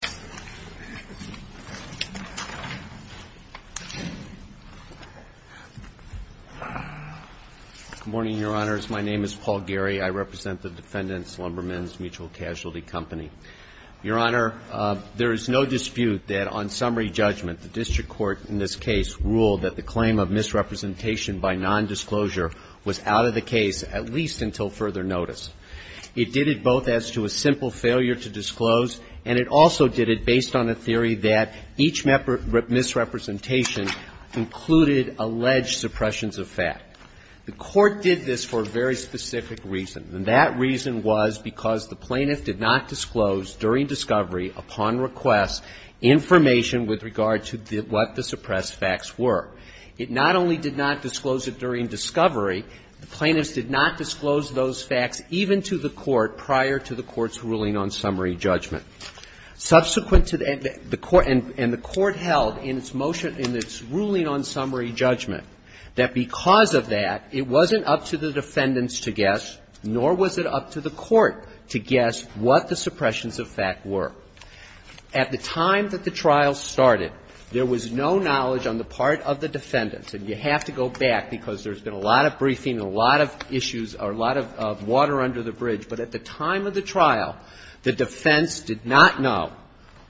Casualty Company. Your Honor, there is no dispute that on summary judgment the District Court in this case ruled that the claim of misrepresentation by nondisclosure was out of the case at least until further notice. It did it both as to a simple failure to disclose, and it also did it as to a simple failure to make the case public. It also did it based on a theory that each misrepresentation included alleged suppressions of fact. The Court did this for a very specific reason, and that reason was because the plaintiff did not disclose during discovery upon request information with regard to what the suppressed facts were. It not only did not disclose it during discovery, the plaintiffs did not disclose those facts even to the Court prior to the Court's ruling on summary judgment. Subsequent to that, the Court and the Court held in its motion, in its ruling on summary judgment, that because of that, it wasn't up to the defendants to guess, nor was it up to the Court to guess what the suppressions of fact were. At the time that the trial started, there was no knowledge on the part of the defendants, and you have to go back because there's been a lot of briefing and a lot of issues or a lot of water under the bridge, but at the time of the trial, the defense did not know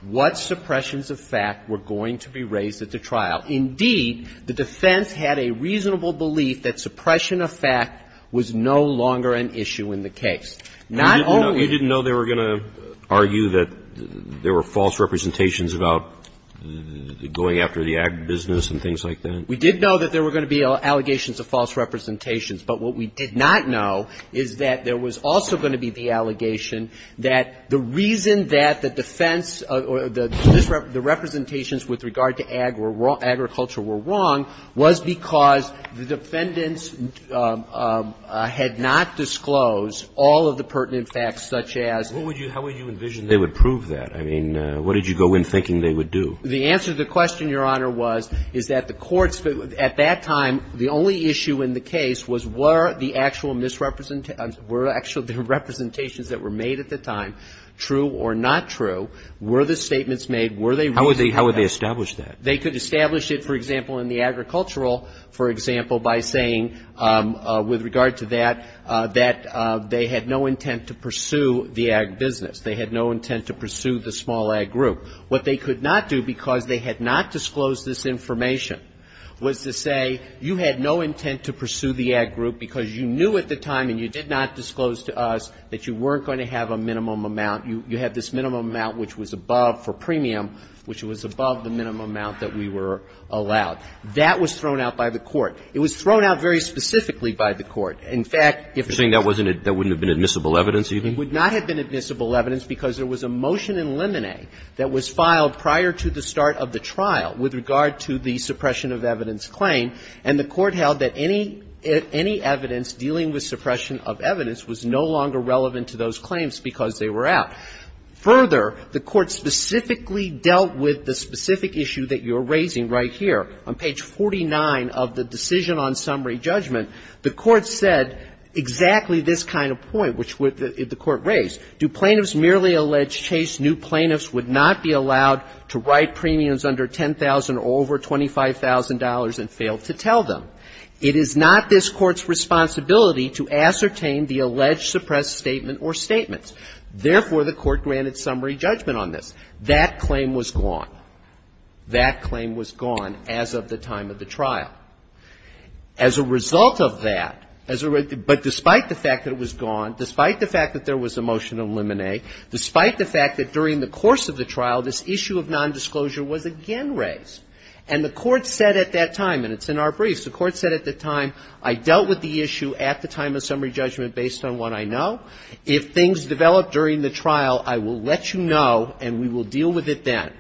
what suppressions of fact were going to be raised at the trial. Indeed, the defense had a reasonable belief that suppression of fact was no longer an issue in the case. Not only do we know that there were going to argue that there were false representations about going after the ag business and things like that. We did know that there were going to be allegations of false representations, but what we did not know is that there was also going to be the allegation that the reason that the defense or the representations with regard to agriculture were wrong was because the defendants had not disclosed all of the pertinent facts such as the law. What would you do? How would you envision they would prove that? I mean, what did you go in thinking they would do? The answer to the question, Your Honor, was, is that the courts, at that time, the only issue in the case was were the actual misrepresentations, were the actual representations that were made at the time true or not true, were the statements made, were they reasonable? How would they establish that? They could establish it, for example, in the agricultural, for example, by saying with regard to that, that they had no intent to pursue the ag business. They had no to, because they had not disclosed this information, was to say you had no intent to pursue the ag group because you knew at the time and you did not disclose to us that you weren't going to have a minimum amount, you had this minimum amount which was above for premium, which was above the minimum amount that we were allowed. That was thrown out by the court. It was thrown out very specifically by the court. In fact, if it was not. You're saying that wouldn't have been admissible evidence, even? It would not have been admissible evidence because there was a motion in Lemonet that was filed prior to the start of the trial with regard to the suppression of evidence claim, and the court held that any, any evidence dealing with suppression of evidence was no longer relevant to those claims because they were out. Further, the court specifically dealt with the specific issue that you're raising right here. On page 49 of the decision on summary judgment, the court said exactly this kind of point, which the court raised. Do plaintiffs merely allege chase? New plaintiffs would not be allowed to write premiums under $10,000 or over $25,000 and fail to tell them. It is not this court's responsibility to ascertain the alleged suppressed statement or statements. Therefore, the court granted summary judgment on this. That claim was gone. That claim was gone as of the time of the trial. As a result of that, as a result of that, despite the fact that it was gone, despite the fact that there was a motion in Lemonet, despite the fact that during the course of the trial, this issue of nondisclosure was again raised. And the court said at that time, and it's in our briefs, the court said at the time, I dealt with the issue at the time of summary judgment based on what I know. If things develop during the trial, I will let you know, and we will deal with it then.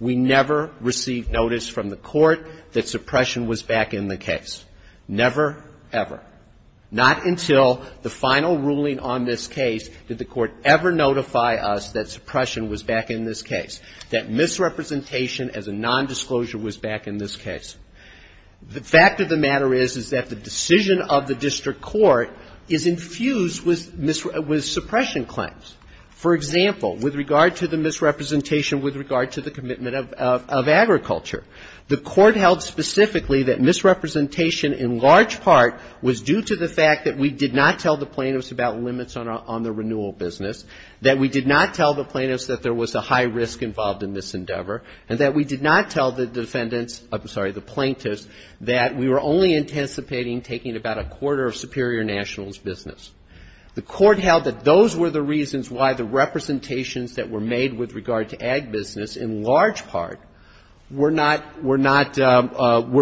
We never received notice from the court that suppression was back in the case, never, ever. Not until the final ruling on this case did the court ever notify us that suppression was back in this case, that misrepresentation as a nondisclosure was back in this case. The fact of the matter is, is that the decision of the district court is infused with suppression claims. For example, with regard to the misrepresentation with regard to the commitment of agriculture, the court held specifically that misrepresentation in large part was due to the fact that we did not tell the plaintiffs about limits on the renewal business, that we did not tell the plaintiffs that there was a high risk involved in this endeavor, and that we did not tell the defendants or, I'm sorry, the plaintiffs that we were only anticipating taking about a quarter of Superior Nationals' business. The court held that those were the reasons why the representations that were made with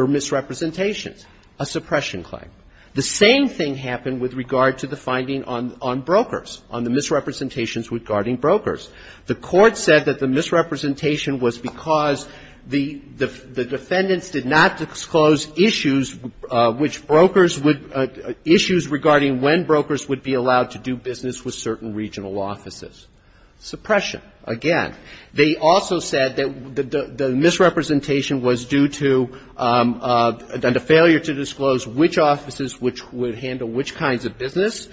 misrepresentations, a suppression claim. The same thing happened with regard to the finding on brokers, on the misrepresentations regarding brokers. The court said that the misrepresentation was because the defendants did not disclose issues which brokers would issues regarding when brokers would be allowed to do business with certain regional offices. Suppression, again. They also said that the misrepresentation was due to a failure to disclose which offices which would handle which kinds of business,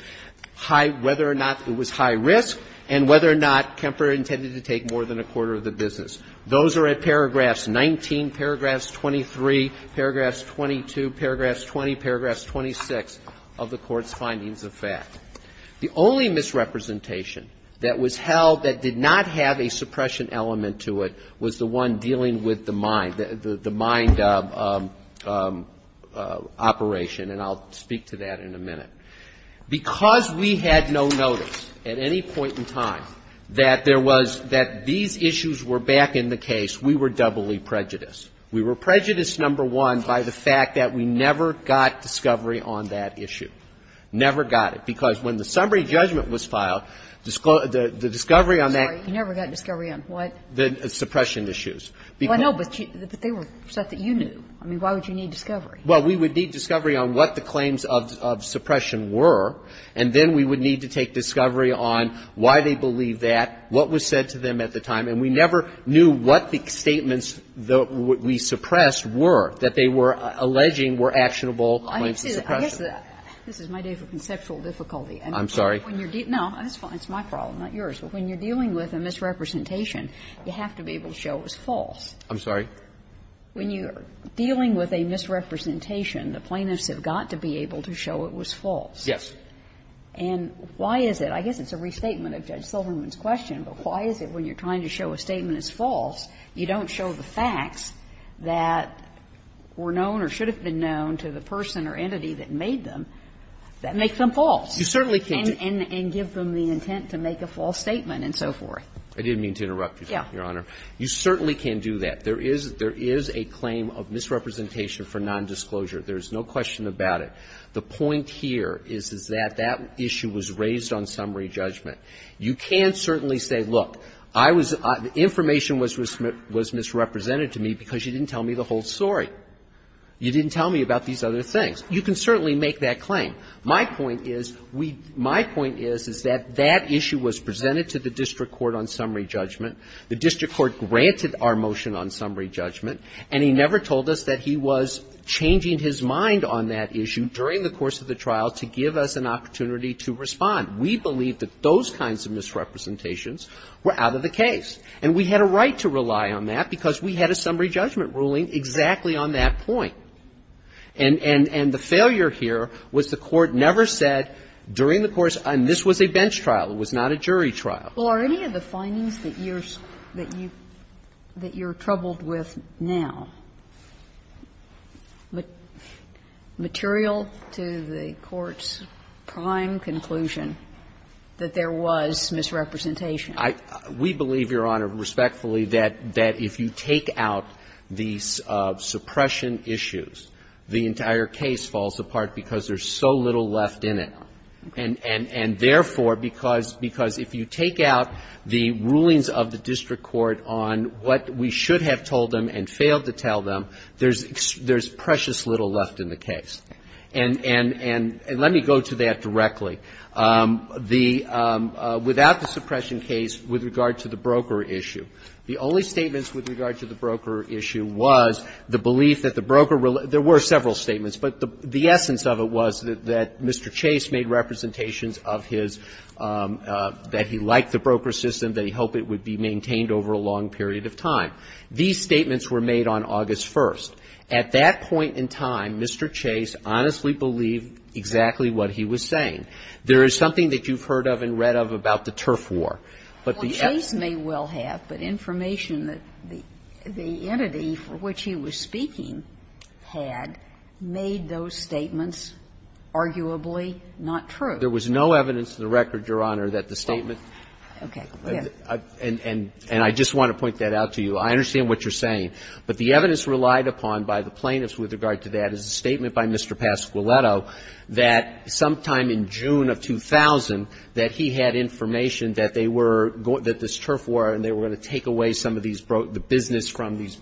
high – whether or not it was high risk, and whether or not Kemper intended to take more than a quarter of the business. Those are at paragraphs 19, paragraphs 23, paragraphs 22, paragraphs 20, paragraphs 26 of the Court's findings of fact. The only misrepresentation that was held that did not have a suppression element to it was the one dealing with the mine, the mine operation, and I'll speak to that in a minute. Because we had no notice at any point in time that there was – that these issues were back in the case, we were doubly prejudiced. We were prejudiced, number one, by the fact that we never got discovery on that issue, never got it, because when the summary of the discovery on that – Sorry. You never got discovery on what? The suppression issues. Well, no, but they were stuff that you knew. I mean, why would you need discovery? Well, we would need discovery on what the claims of suppression were, and then we would need to take discovery on why they believed that, what was said to them at the time, and we never knew what the statements that we suppressed were, that they were alleging were actionable claims of suppression. I guess that – this is my day for conceptual difficulty. I'm sorry? When you're – no, that's fine. It's my problem, not yours. But when you're dealing with a misrepresentation, you have to be able to show it was false. I'm sorry? When you're dealing with a misrepresentation, the plaintiffs have got to be able to show it was false. Yes. And why is it? I guess it's a restatement of Judge Silverman's question, but why is it when you're trying to show a statement is false, you don't show the facts that were known or should have been known to the person or entity that made them, that makes them false? You certainly can't. And give them the intent to make a false statement and so forth. I didn't mean to interrupt you, Your Honor. You certainly can do that. There is a claim of misrepresentation for nondisclosure. There is no question about it. The point here is that that issue was raised on summary judgment. You can certainly say, look, I was – the information was misrepresented to me because you didn't tell me the whole story. You didn't tell me about these other things. You can certainly make that claim. My point is, we – my point is, is that that issue was presented to the district court on summary judgment. The district court granted our motion on summary judgment, and he never told us that he was changing his mind on that issue during the course of the trial to give us an opportunity to respond. We believe that those kinds of misrepresentations were out of the case. And we had a right to rely on that because we had a summary judgment ruling exactly on that point. And the failure here was the Court never said during the course – and this was a bench trial. It was not a jury trial. Well, are any of the findings that you're – that you're troubled with now material to the Court's prime conclusion that there was misrepresentation? I – we believe, Your Honor, respectfully, that if you take out the suppression issues, the entire case falls apart because there's so little left in it. And therefore, because – because if you take out the rulings of the district court on what we should have told them and failed to tell them, there's – there's precious little left in the case. And – and let me go to that directly. The – without the suppression case, with regard to the broker issue, the only statements with regard to the broker issue was the belief that the broker – there were several statements, but the – the essence of it was that Mr. Chase made representations of his – that he liked the broker system, that he hoped it would be maintained over a long period of time. These statements were made on August 1st. At that point in time, Mr. Chase honestly believed exactly what he was saying. There is something that you've heard of and read of about the turf war. But the – Well, Chase may well have, but information that the – the entity for which he was speaking had made those statements arguably not true. There was no evidence to the record, Your Honor, that the statement – Well, okay. Yes. And – and I just want to point that out to you. I understand what you're saying. But the evidence relied upon by the plaintiffs with regard to that is a statement by Mr. Pasquiletto that sometime in June of 2000, that he had information that they were – that this turf war and they were going to take away some of these – the business from these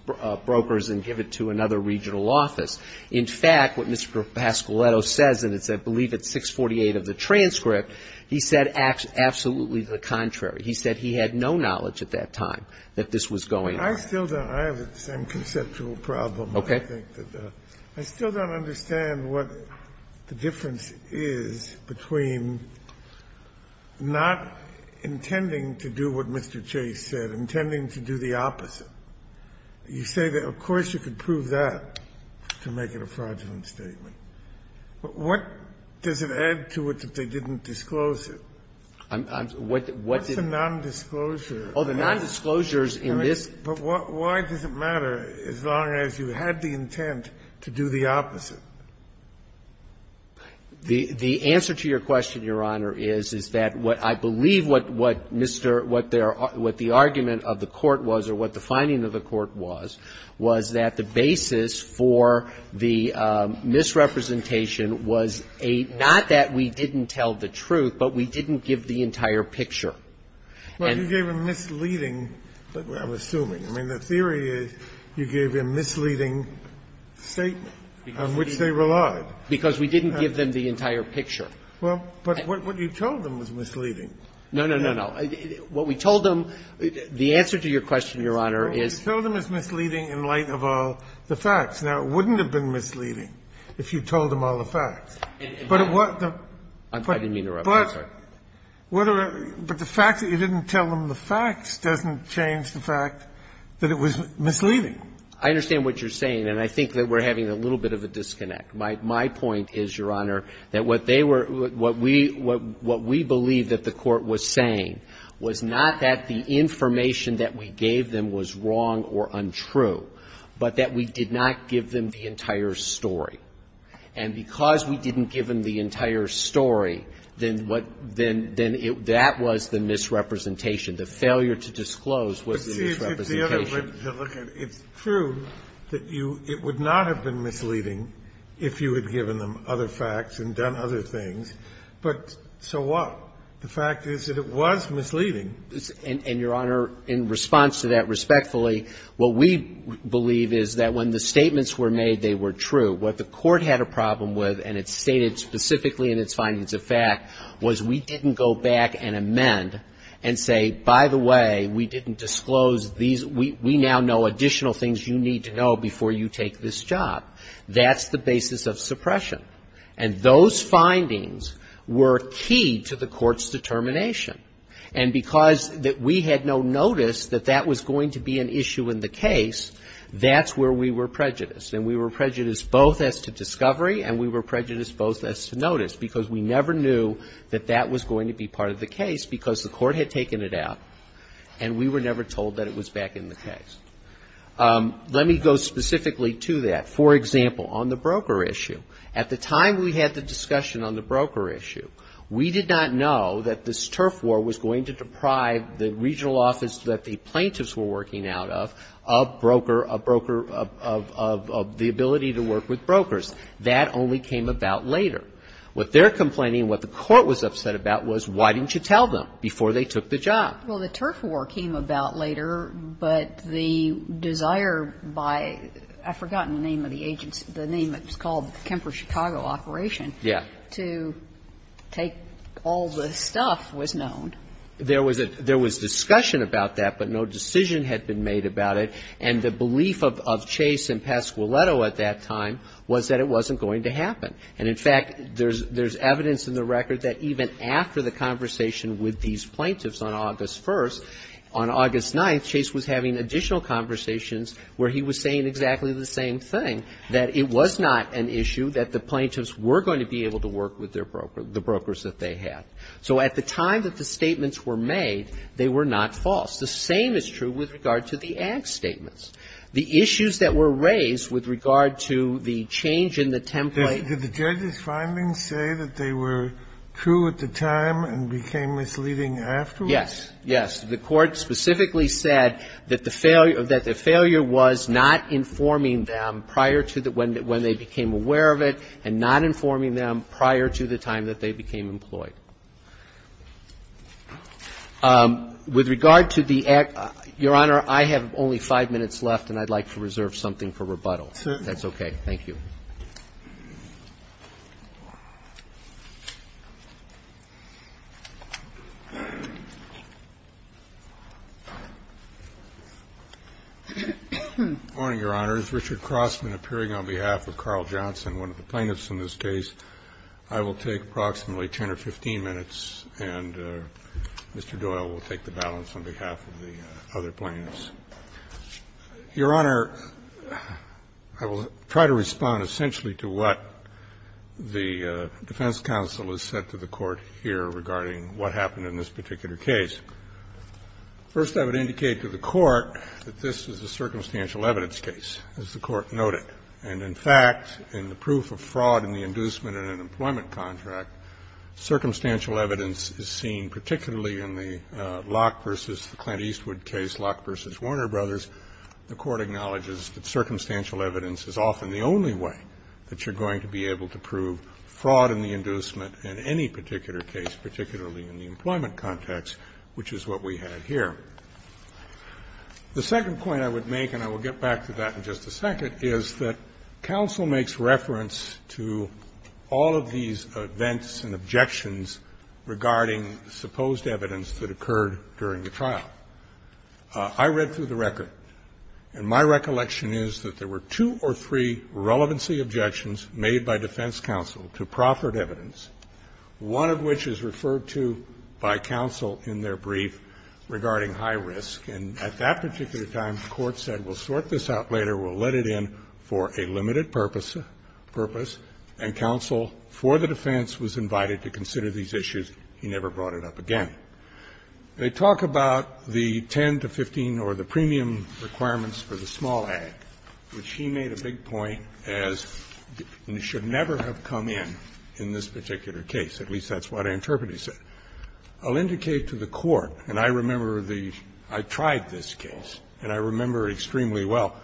brokers and give it to another regional office. In fact, what Mr. Pasquiletto says, and it's, I believe, at 648 of the transcript, he said absolutely the contrary. He said he had no knowledge at that time that this was going on. I still don't. I have the same conceptual problem. Okay. I think that I still don't understand what the difference is between not intending to do what Mr. Chase said, intending to do the opposite. You say that, of course, you could prove that to make it a fraudulent statement. But what does it add to it that they didn't disclose it? What's the nondisclosure? Oh, the nondisclosures in this – But why does it matter as long as you had the intent to do the opposite? The answer to your question, Your Honor, is, is that what I believe what Mr. – what the argument of the Court was or what the finding of the Court was, was that the basis for the misrepresentation was a – not that we didn't tell the truth, but we didn't give the entire picture. But you gave a misleading – I'm assuming. I mean, the theory is you gave a misleading statement. On which they relied. Because we didn't give them the entire picture. Well, but what you told them was misleading. No, no, no, no. What we told them – the answer to your question, Your Honor, is – What we told them is misleading in light of all the facts. Now, it wouldn't have been misleading if you told them all the facts. But what the – I didn't mean to interrupt. I'm sorry. But the fact that you didn't tell them the facts doesn't change the fact that it was misleading. I understand what you're saying, and I think that we're having a little bit of a disconnect. My point is, Your Honor, that what they were – what we – what we believe that the Court was saying was not that the information that we gave them was wrong or untrue, but that we did not give them the entire story. And because we didn't give them the entire story, then what – then that was the misrepresentation, the failure to disclose was the misrepresentation. It's true that you – it would not have been misleading if you had given them other facts and done other things, but so what? The fact is that it was misleading. And, Your Honor, in response to that respectfully, what we believe is that when the statements were made, they were true. What the Court had a problem with, and it stated specifically in its findings of fact, was we didn't go back and amend and say, by the way, we didn't disclose these – we now know additional things you need to know before you take this job. That's the basis of suppression. And those findings were key to the Court's determination. And because we had no notice that that was going to be an issue in the case, that's where we were prejudiced. And we were prejudiced both as to discovery and we were prejudiced both as to notice, because we never knew that that was going to be part of the case because the Court had taken it out and we were never told that it was back in the case. Let me go specifically to that. For example, on the broker issue, at the time we had the discussion on the broker issue, we did not know that this turf war was going to deprive the regional office that the plaintiffs were working out of, of broker – of the ability to work with brokers. That only came about later. What they're complaining, what the Court was upset about was why didn't you tell them before they took the job? Well, the turf war came about later, but the desire by – I've forgotten the name of the agency – the name that was called, Kemper Chicago Operation. Yeah. To take all the stuff was known. There was a – there was discussion about that, but no decision had been made about it, and the belief of Chase and Pasquiletto at that time was that it wasn't going to happen. And, in fact, there's evidence in the record that even after the conversation with these plaintiffs on August 1st, on August 9th, Chase was having additional conversations where he was saying exactly the same thing, that it was not an issue that the plaintiffs were going to be able to work with their broker – the brokers that they had. So at the time that the statements were made, they were not false. The same is true with regard to the ag statements. The issues that were raised with regard to the change in the template – Did the judges' findings say that they were true at the time and became misleading afterwards? Yes. Yes. The Court specifically said that the failure – that the failure was not informing them prior to the – when they became aware of it and not informing them prior to the time that they became employed. With regard to the ag – Your Honor, I have only 5 minutes left, and I'd like to reserve something for rebuttal, if that's okay. Thank you. Good morning, Your Honor. As Richard Crossman, appearing on behalf of Carl Johnson, one of the plaintiffs in this case, I will take approximately 10 or 15 minutes, and Mr. Doyle will take the balance on behalf of the other plaintiffs. Your Honor, I will try to respond essentially to what the defense counsel has said to the Court here regarding what happened in this particular case. First, I would indicate to the Court that this is a circumstantial evidence case, as the Court noted. And in fact, in the proof of fraud in the inducement in an employment contract, circumstantial evidence is seen particularly in the Locke v. the Clint Eastwood case, Locke v. Warner Brothers. The Court acknowledges that circumstantial evidence is often the only way that you're going to be able to prove fraud in the inducement in any particular case, particularly in the employment context, which is what we have here. The second point I would make, and I will get back to that in just a second, is that counsel makes reference to all of these events and objections regarding supposed evidence that occurred during the trial. I read through the record, and my recollection is that there were two or three relevancy objections made by defense counsel to proffered evidence, one of which is referred to by counsel in their brief regarding high risk. And at that particular time, the Court said, we'll sort this out later, we'll let it in for a limited purpose, and counsel for the defense was invited to consider these issues. He never brought it up again. They talk about the 10 to 15 or the premium requirements for the small ag, which he made a big point as should never have come in in this particular case. At least that's what I interpret he said. I'll indicate to the Court, and I remember the – I tried this case, and I remember it extremely well,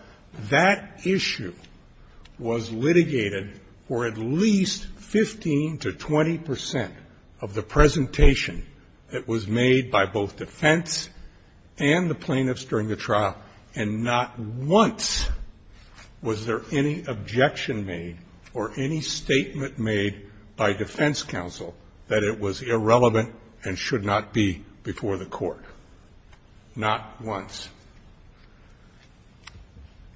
that issue was litigated for at least 15 to 20 percent of the presentation that was made by both defense and the plaintiffs during the trial, and not once was there any objection made or any statement made by defense counsel that it was irrelevant and should not be before the Court, not once.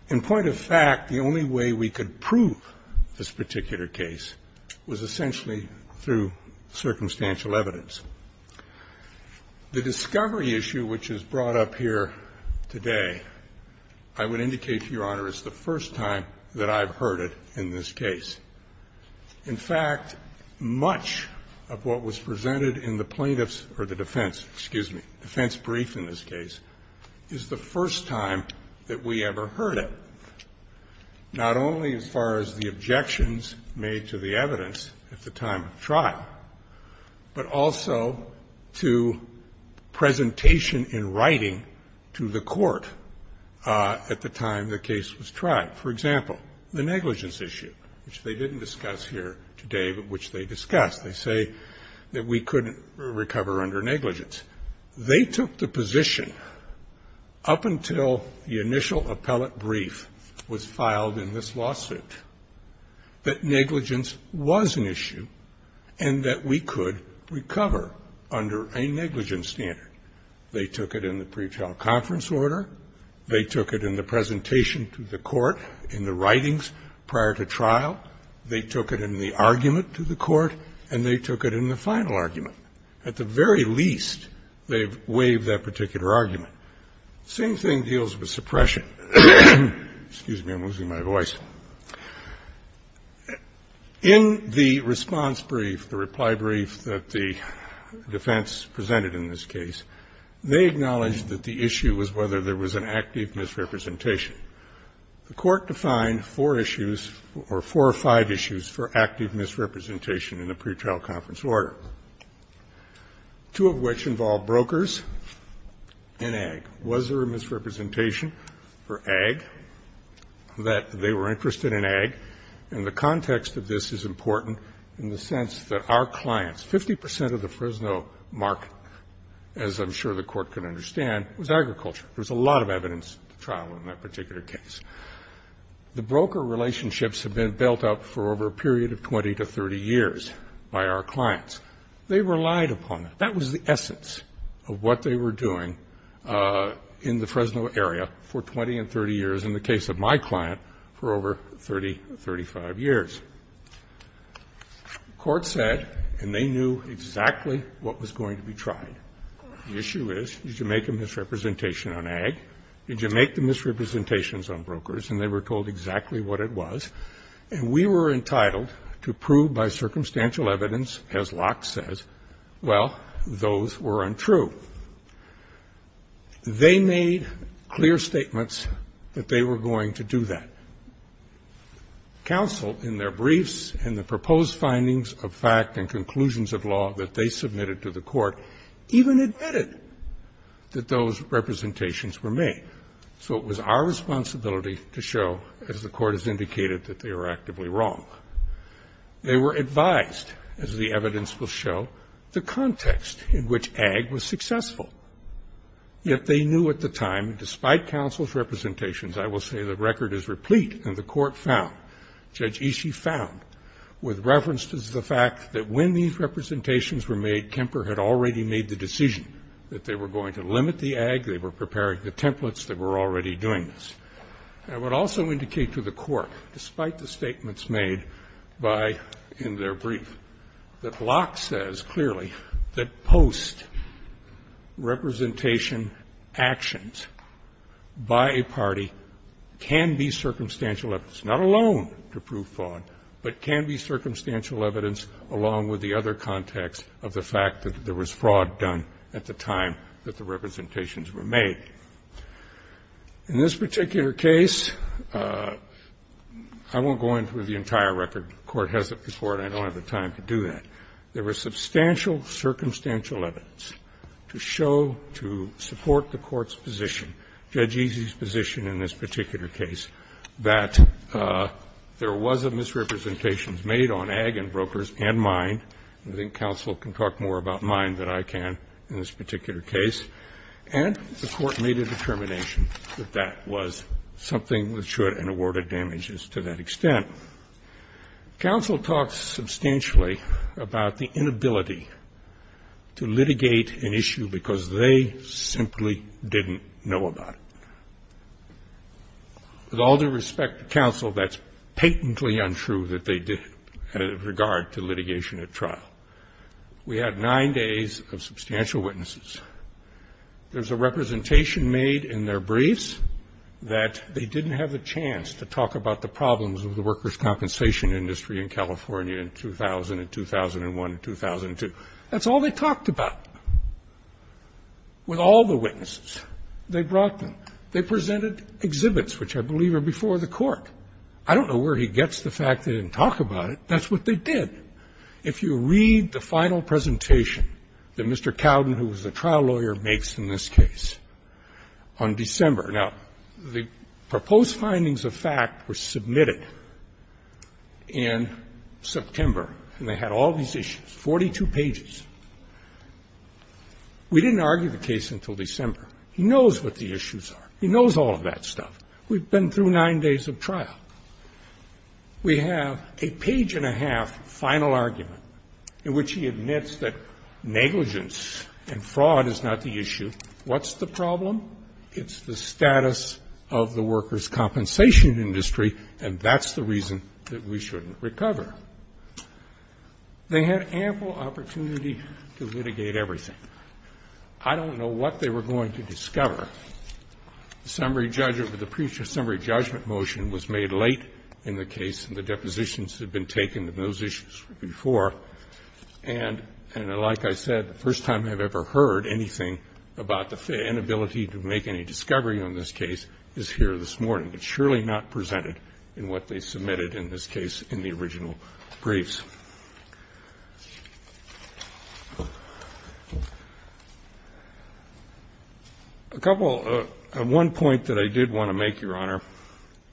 In point of fact, the only way we could prove this particular case was essentially through circumstantial evidence. The discovery issue which is brought up here today, I would indicate to Your Honor, it's the first time that I've heard it in this case. In fact, much of what was presented in the plaintiffs' or the defense, excuse me, defense brief in this case, is the first time that we ever heard it, not only as far as the objections made to the evidence at the time of trial, but also to presentation in writing to the Court at the time the case was tried. For example, the negligence issue, which they didn't discuss here today, but which they discussed. They say that we couldn't recover under negligence. They took the position up until the initial appellate brief was filed in this lawsuit that negligence was an issue and that we could recover under a negligence standard. They took it in the pretrial conference order. They took it in the presentation to the Court in the writings prior to trial. They took it in the argument to the Court, and they took it in the final argument. At the very least, they've waived that particular argument. Same thing deals with suppression. Excuse me, I'm losing my voice. In the response brief, the reply brief that the defense presented in this case, they acknowledged that the issue was whether there was an active misrepresentation. The Court defined four issues or four or five issues for active misrepresentation in the pretrial conference order, two of which involved brokers and ag. Was there a misrepresentation for ag, that they were interested in ag? And the context of this is important in the sense that our clients, 50 percent of the Fresno market, as I'm sure the Court can understand, was agriculture. There was a lot of evidence at the trial in that particular case. The broker relationships have been built up for over a period of 20 to 30 years by our clients. They relied upon it. That was the essence of what they were doing in the Fresno area for 20 and 30 years, in the case of my client, for over 30, 35 years. The Court said, and they knew exactly what was going to be tried, the issue is, did you make a misrepresentation on ag? Did you make the misrepresentations on brokers? And they were told exactly what it was. And we were entitled to prove by circumstantial evidence, as Locke says, well, those were untrue. They made clear statements that they were going to do that. Counsel, in their briefs and the proposed findings of fact and conclusions of law that they submitted to the Court, even admitted that those representations were made. So it was our responsibility to show, as the Court has indicated, that they were actively wrong. They were advised, as the evidence will show, the context in which ag was successful. Yet they knew at the time, despite counsel's representations, I will say the record is replete, and the Court found, Judge Ishii found, with reference to the fact that when these representations were made, Kemper had already made the decision that they were going to limit the ag. They were preparing the templates. They were already doing this. I would also indicate to the Court, despite the statements made by, in their brief, that Locke says clearly that post-representation actions by a party can be circumstantial evidence, not alone to prove fraud, but can be circumstantial evidence along with the other context of the fact that there was fraud done at the time that the representations were made. In this particular case, I won't go into the entire record. The Court has it before, and I don't have the time to do that. There was substantial circumstantial evidence to show, to support the Court's position in this particular case, that there was a misrepresentation made on ag and brokers and mine. I think counsel can talk more about mine than I can in this particular case. And the Court made a determination that that was something that should and awarded damages to that extent. Counsel talked substantially about the inability to litigate an issue because they simply didn't know about it. With all due respect to counsel, that's patently untrue that they did, and in regard to litigation at trial. We had nine days of substantial witnesses. There's a representation made in their briefs that they didn't have a chance to talk about the problems of the workers' compensation industry in California in 2000 and 2001 and 2002. That's all they talked about. With all the witnesses, they brought them. They presented exhibits, which I believe are before the Court. I don't know where he gets the fact they didn't talk about it. That's what they did. If you read the final presentation that Mr. Cowden, who was the trial lawyer, makes in this case on December. Now, the proposed findings of fact were submitted in September, and they had all these issues, 42 pages. We didn't argue the case until December. He knows what the issues are. He knows all of that stuff. We've been through nine days of trial. We have a page and a half final argument in which he admits that negligence and fraud is not the issue. What's the problem? It's the status of the workers' compensation industry, and that's the reason that we shouldn't recover. They had ample opportunity to litigate everything. I don't know what they were going to discover. The summary judgment, the pre-summary judgment motion was made late in the case, and the depositions had been taken on those issues before. And like I said, the first time I've ever heard anything about the inability to make any discovery on this case is here this morning. It's clear to me that if he was interested in finding out what the problem is, and interactions with the workers that he believed were where it went wrong, it surely not presented in what they've submitted in this case in the original briefs. A couple of, one point that I did want to make, Your Honor,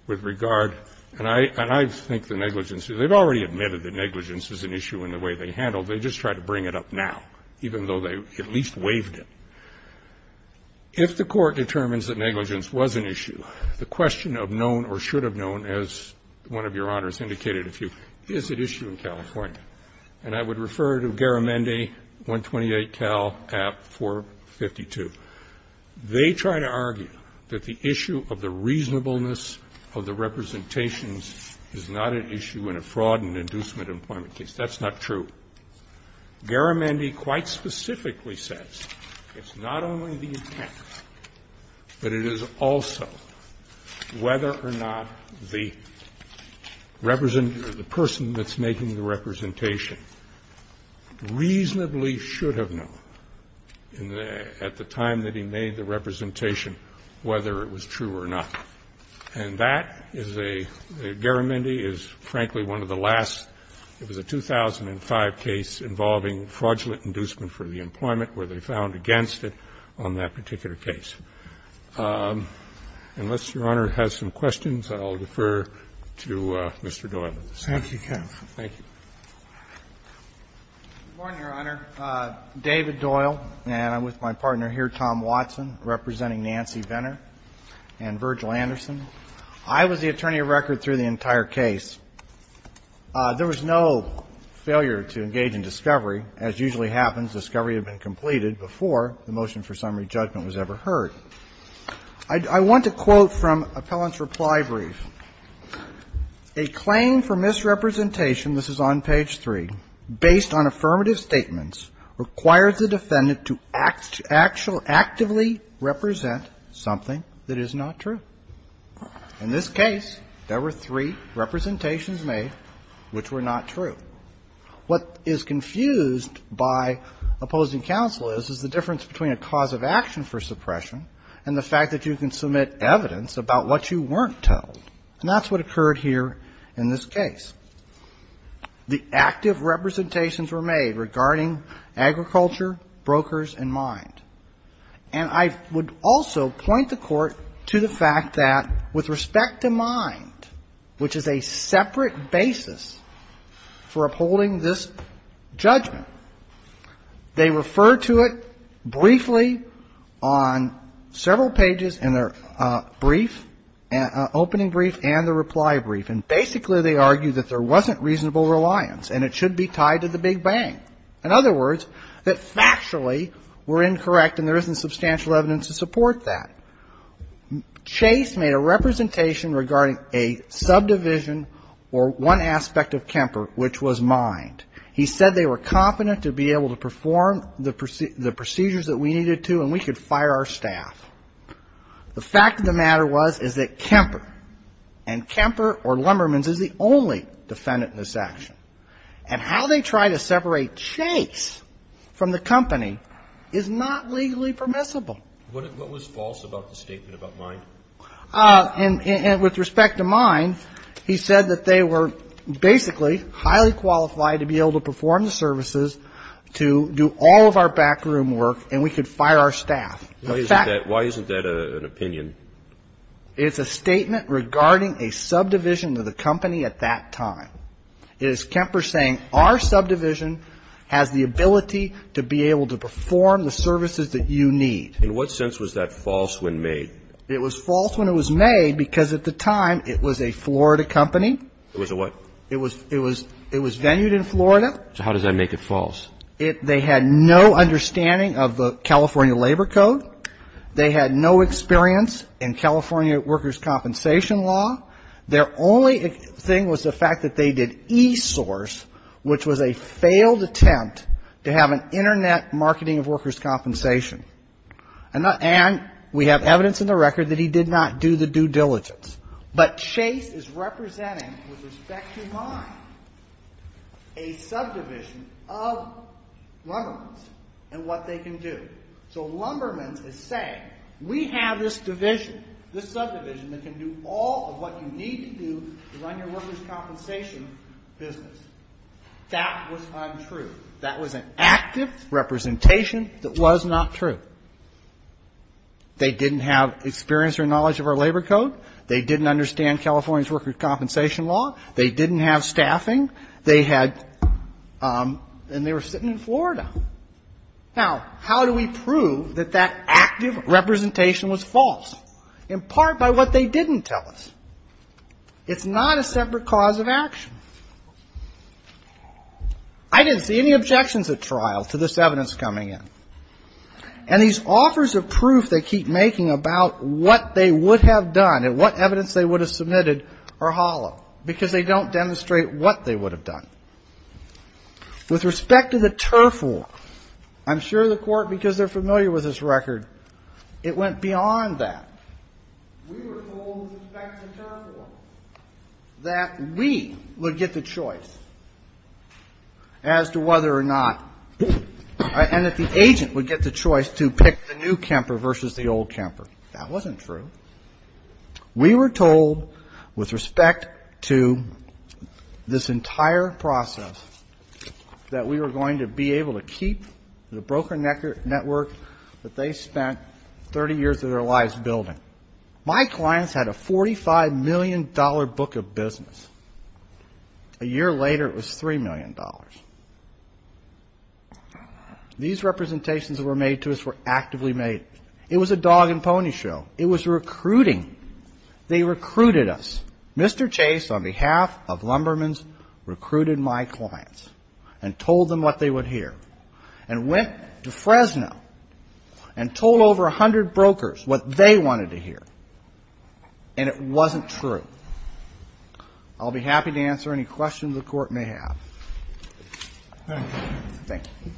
with regard, and I think the negligence, they've already admitted that negligence is an issue in the way they handled, they just tried to bring it up now, even though they at least waived it. If the court determines that negligence was an issue, the question of known or should have known, as one of Your Honors indicated a few, is it issue in California? And I would refer to Garamendi, 128 Cal, at 452. They try to argue that the issue of the reasonableness of the representations is not an issue in a fraud and inducement employment case. That's not true. Garamendi quite specifically says it's not only the impact, but it is also whether or not the person that's making the representation reasonably should have known at the time that he made the representation whether it was true or not. And that is a, Garamendi is, frankly, one of the last, it was a 2005 case involving fraudulent inducement for the employment where they found against it on that particular case. Unless Your Honor has some questions, I'll defer to Mr. Doyle. Thank you, counsel. Thank you. Good morning, Your Honor. David Doyle, and I'm with my partner here, Tom Watson, representing Nancy Venner and Virgil Anderson. I was the attorney of record through the entire case. There was no failure to engage in discovery. As usually happens, discovery had been completed before the motion for summary judgment was ever heard. I want to quote from Appellant's reply brief. A claim for misrepresentation, this is on page 3, based on affirmative statements, requires the defendant to actively represent something that is not true. In this case, there were three representations made which were not true. What is confused by opposing counsel is, is the difference between a cause of action for suppression and the fact that you can submit evidence about what you weren't told. And that's what occurred here in this case. The active representations were made regarding agriculture, brokers, and mine. And I would also point the Court to the fact that with respect to mine, which is a separate basis for upholding this judgment, they refer to it briefly on several pages in their brief, opening brief, and the reply brief. And basically they argue that there wasn't reasonable reliance and it should be tied to the Big Bang. In other words, that factually we're incorrect and there isn't substantial evidence to support that. Chase made a representation regarding a subdivision or one aspect of Kemper, which was mined. He said they were competent to be able to perform the procedures that we needed to and we could fire our staff. The fact of the matter was is that Kemper, and Kemper or Lumbermans is the only defendant in this action. And how they try to separate Chase from the company is not legally permissible. What was false about the statement about mine? And with respect to mine, he said that they were basically highly qualified to be able to perform the services, to do all of our backroom work, and we could fire our staff. Why isn't that an opinion? It's a statement regarding a subdivision of the company at that time. It is Kemper saying our subdivision has the ability to be able to perform the services that you need. In what sense was that false when made? It was false when it was made because at the time it was a Florida company. It was a what? It was venued in Florida. So how does that make it false? They had no understanding of the California Labor Code. They had no experience in California workers' compensation law. Their only thing was the fact that they did e-source, which was a failed attempt to have an Internet marketing of workers' compensation. And we have evidence in the record that he did not do the due diligence. But Chase is representing, with respect to mine, a subdivision of Lumberman's and what they can do. So Lumberman's is saying we have this division, this subdivision that can do all of what you need to do to run your workers' compensation business. That was untrue. That was an active representation that was not true. They didn't have experience or knowledge of our Labor Code. They didn't understand California's workers' compensation law. They didn't have staffing. They had ‑‑ and they were sitting in Florida. Now, how do we prove that that active representation was false? In part by what they didn't tell us. It's not a separate cause of action. I didn't see any objections at trial to this evidence coming in. And these offers of proof they keep making about what they would have done and what evidence they would have submitted are hollow, because they don't demonstrate what they would have done. With respect to the TURF law, I'm sure the Court, because they're familiar with this record, it went beyond that. We were told with respect to TURF law that we would get the choice as to whether or not and that the agent would get the choice to pick the new camper versus the old camper. That wasn't true. We were told with respect to this entire process that we were going to be able to keep the broker network that they spent 30 years of their lives building. My clients had a $45 million book of business. A year later, it was $3 million. These representations that were made to us were actively made. It was a dog and pony show. It was recruiting. They recruited us. Mr. Chase, on behalf of Lumberman's, recruited my clients and told them what they would hear and went to Fresno and told over 100 brokers what they wanted to hear. And it wasn't true. I'll be happy to answer any questions the Court may have. Thank you. Thank you.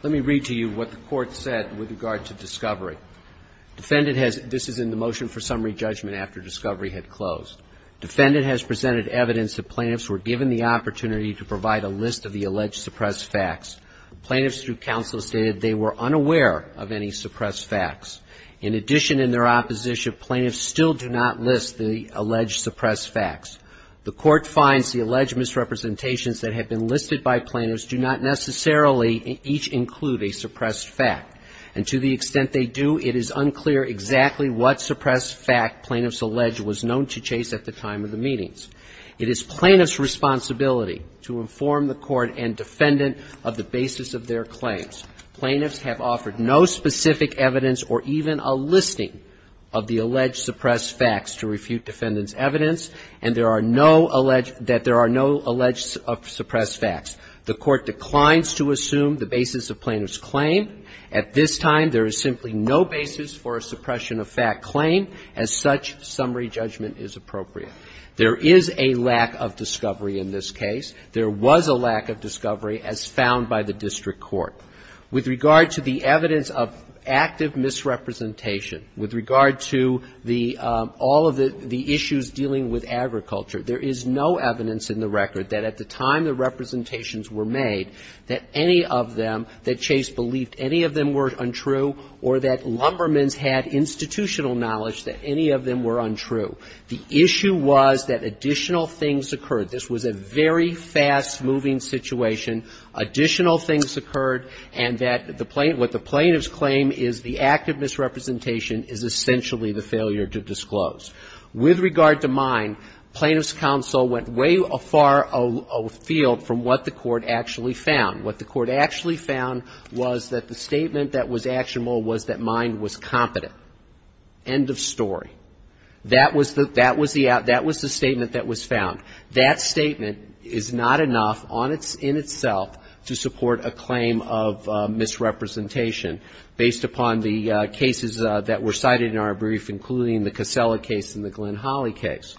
Let me read to you what the Court said with regard to discovery. Defendant has, this is in the motion for summary judgment after discovery had closed. Defendant has presented evidence that plaintiffs were given the opportunity to provide a list of the alleged suppressed facts. Plaintiffs through counsel stated they were unaware of any suppressed facts. In addition, in their opposition, plaintiffs still do not list the alleged suppressed facts. The Court finds the alleged misrepresentations that have been listed by plaintiffs do not necessarily each include a suppressed fact. And to the extent they do, it is unclear exactly what suppressed fact plaintiffs allege was known to Chase at the time of the meetings. It is plaintiff's responsibility to inform the Court and defendant of the basis of their claims. Plaintiffs have offered no specific evidence or even a listing of the alleged suppressed facts to refute defendant's evidence, and there are no alleged, that there are no alleged suppressed facts. The Court declines to assume the basis of plaintiff's claim. At this time, there is simply no basis for a suppression of fact claim. As such, summary judgment is appropriate. There is a lack of discovery in this case. There was a lack of discovery as found by the district court. With regard to the evidence of active misrepresentation, with regard to the all of the issues dealing with agriculture, there is no evidence in the record that at the time the representations were made, that any of them that Chase believed any of them were untrue or that Lumbermans had institutional knowledge that any of them were untrue. The issue was that additional things occurred. This was a very fast-moving situation. Additional things occurred, and that the plaintiff's claim is the active misrepresentation is essentially the failure to disclose. With regard to mine, plaintiff's counsel went way afar afield from what the Court actually found. What the Court actually found was that the statement that was actionable was that mine was competent. End of story. That was the statement that was found. That statement is not enough in itself to support a claim of misrepresentation based upon the cases that were cited in our brief, including the Casella case and the Glenn Holly case.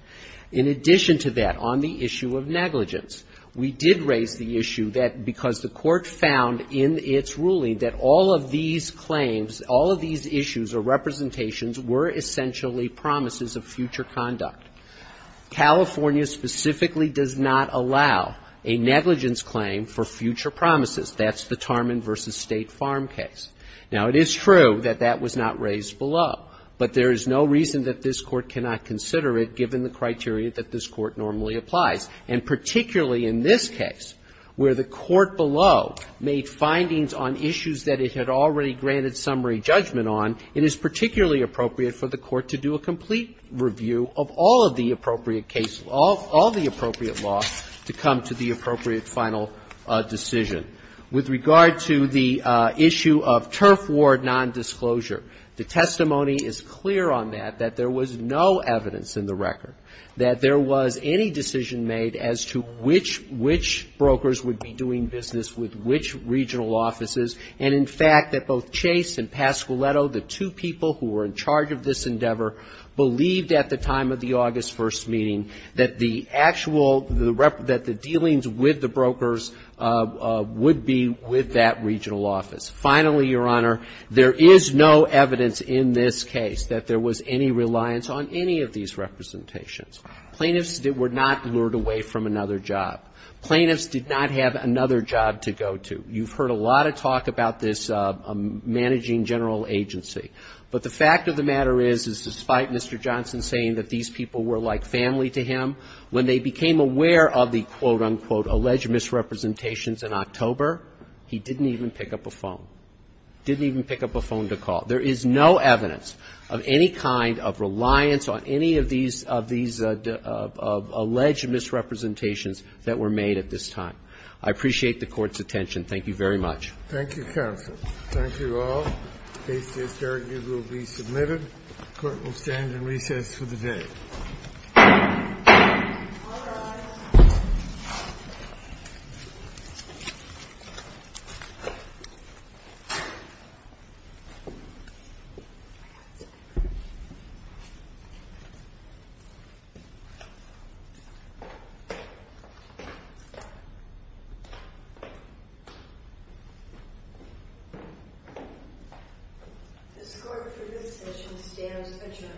In addition to that, on the issue of negligence, we did raise the issue that because the Court found in its ruling that all of these claims, all of these issues or representations were essentially promises of future conduct, California specifically does not allow a negligence claim for future promises. That's the Tarman v. State Farm case. Now, it is true that that was not raised below, but there is no reason that this Court cannot consider it given the criteria that this Court normally applies. And particularly in this case, where the Court below made findings on issues that it had already granted summary judgment on, it is particularly appropriate for the Court to do a complete review of all of the appropriate cases, all of the appropriate laws to come to the appropriate final decision. With regard to the issue of turf ward nondisclosure, the testimony is clear on that, that there was no evidence in the record, that there was any decision made as to which brokers would be doing business with which regional offices, and in fact, that both Chase and Pasquiletto, the two people who were in charge of this endeavor, believed at the time of the August 1st meeting that the actual, that the dealings with the brokers would be with that regional office. Finally, Your Honor, there is no evidence in this case that there was any reliance on any of these representations. Plaintiffs were not lured away from another job. Plaintiffs did not have another job to go to. You've heard a lot of talk about this managing general agency. But the fact of the matter is, is despite Mr. Johnson saying that these people were like family to him, when they became aware of the, quote, unquote, alleged misrepresentations in October, he didn't even pick up a phone. Didn't even pick up a phone to call. There is no evidence of any kind of reliance on any of these, of these alleged misrepresentations that were made at this time. I appreciate the Court's attention. Thank you very much. Thank you, counsel. Thank you all. The case is here. It will be submitted. The Court will stand in recess for the day. All rise. The score for this session stands adjourned. Thank you.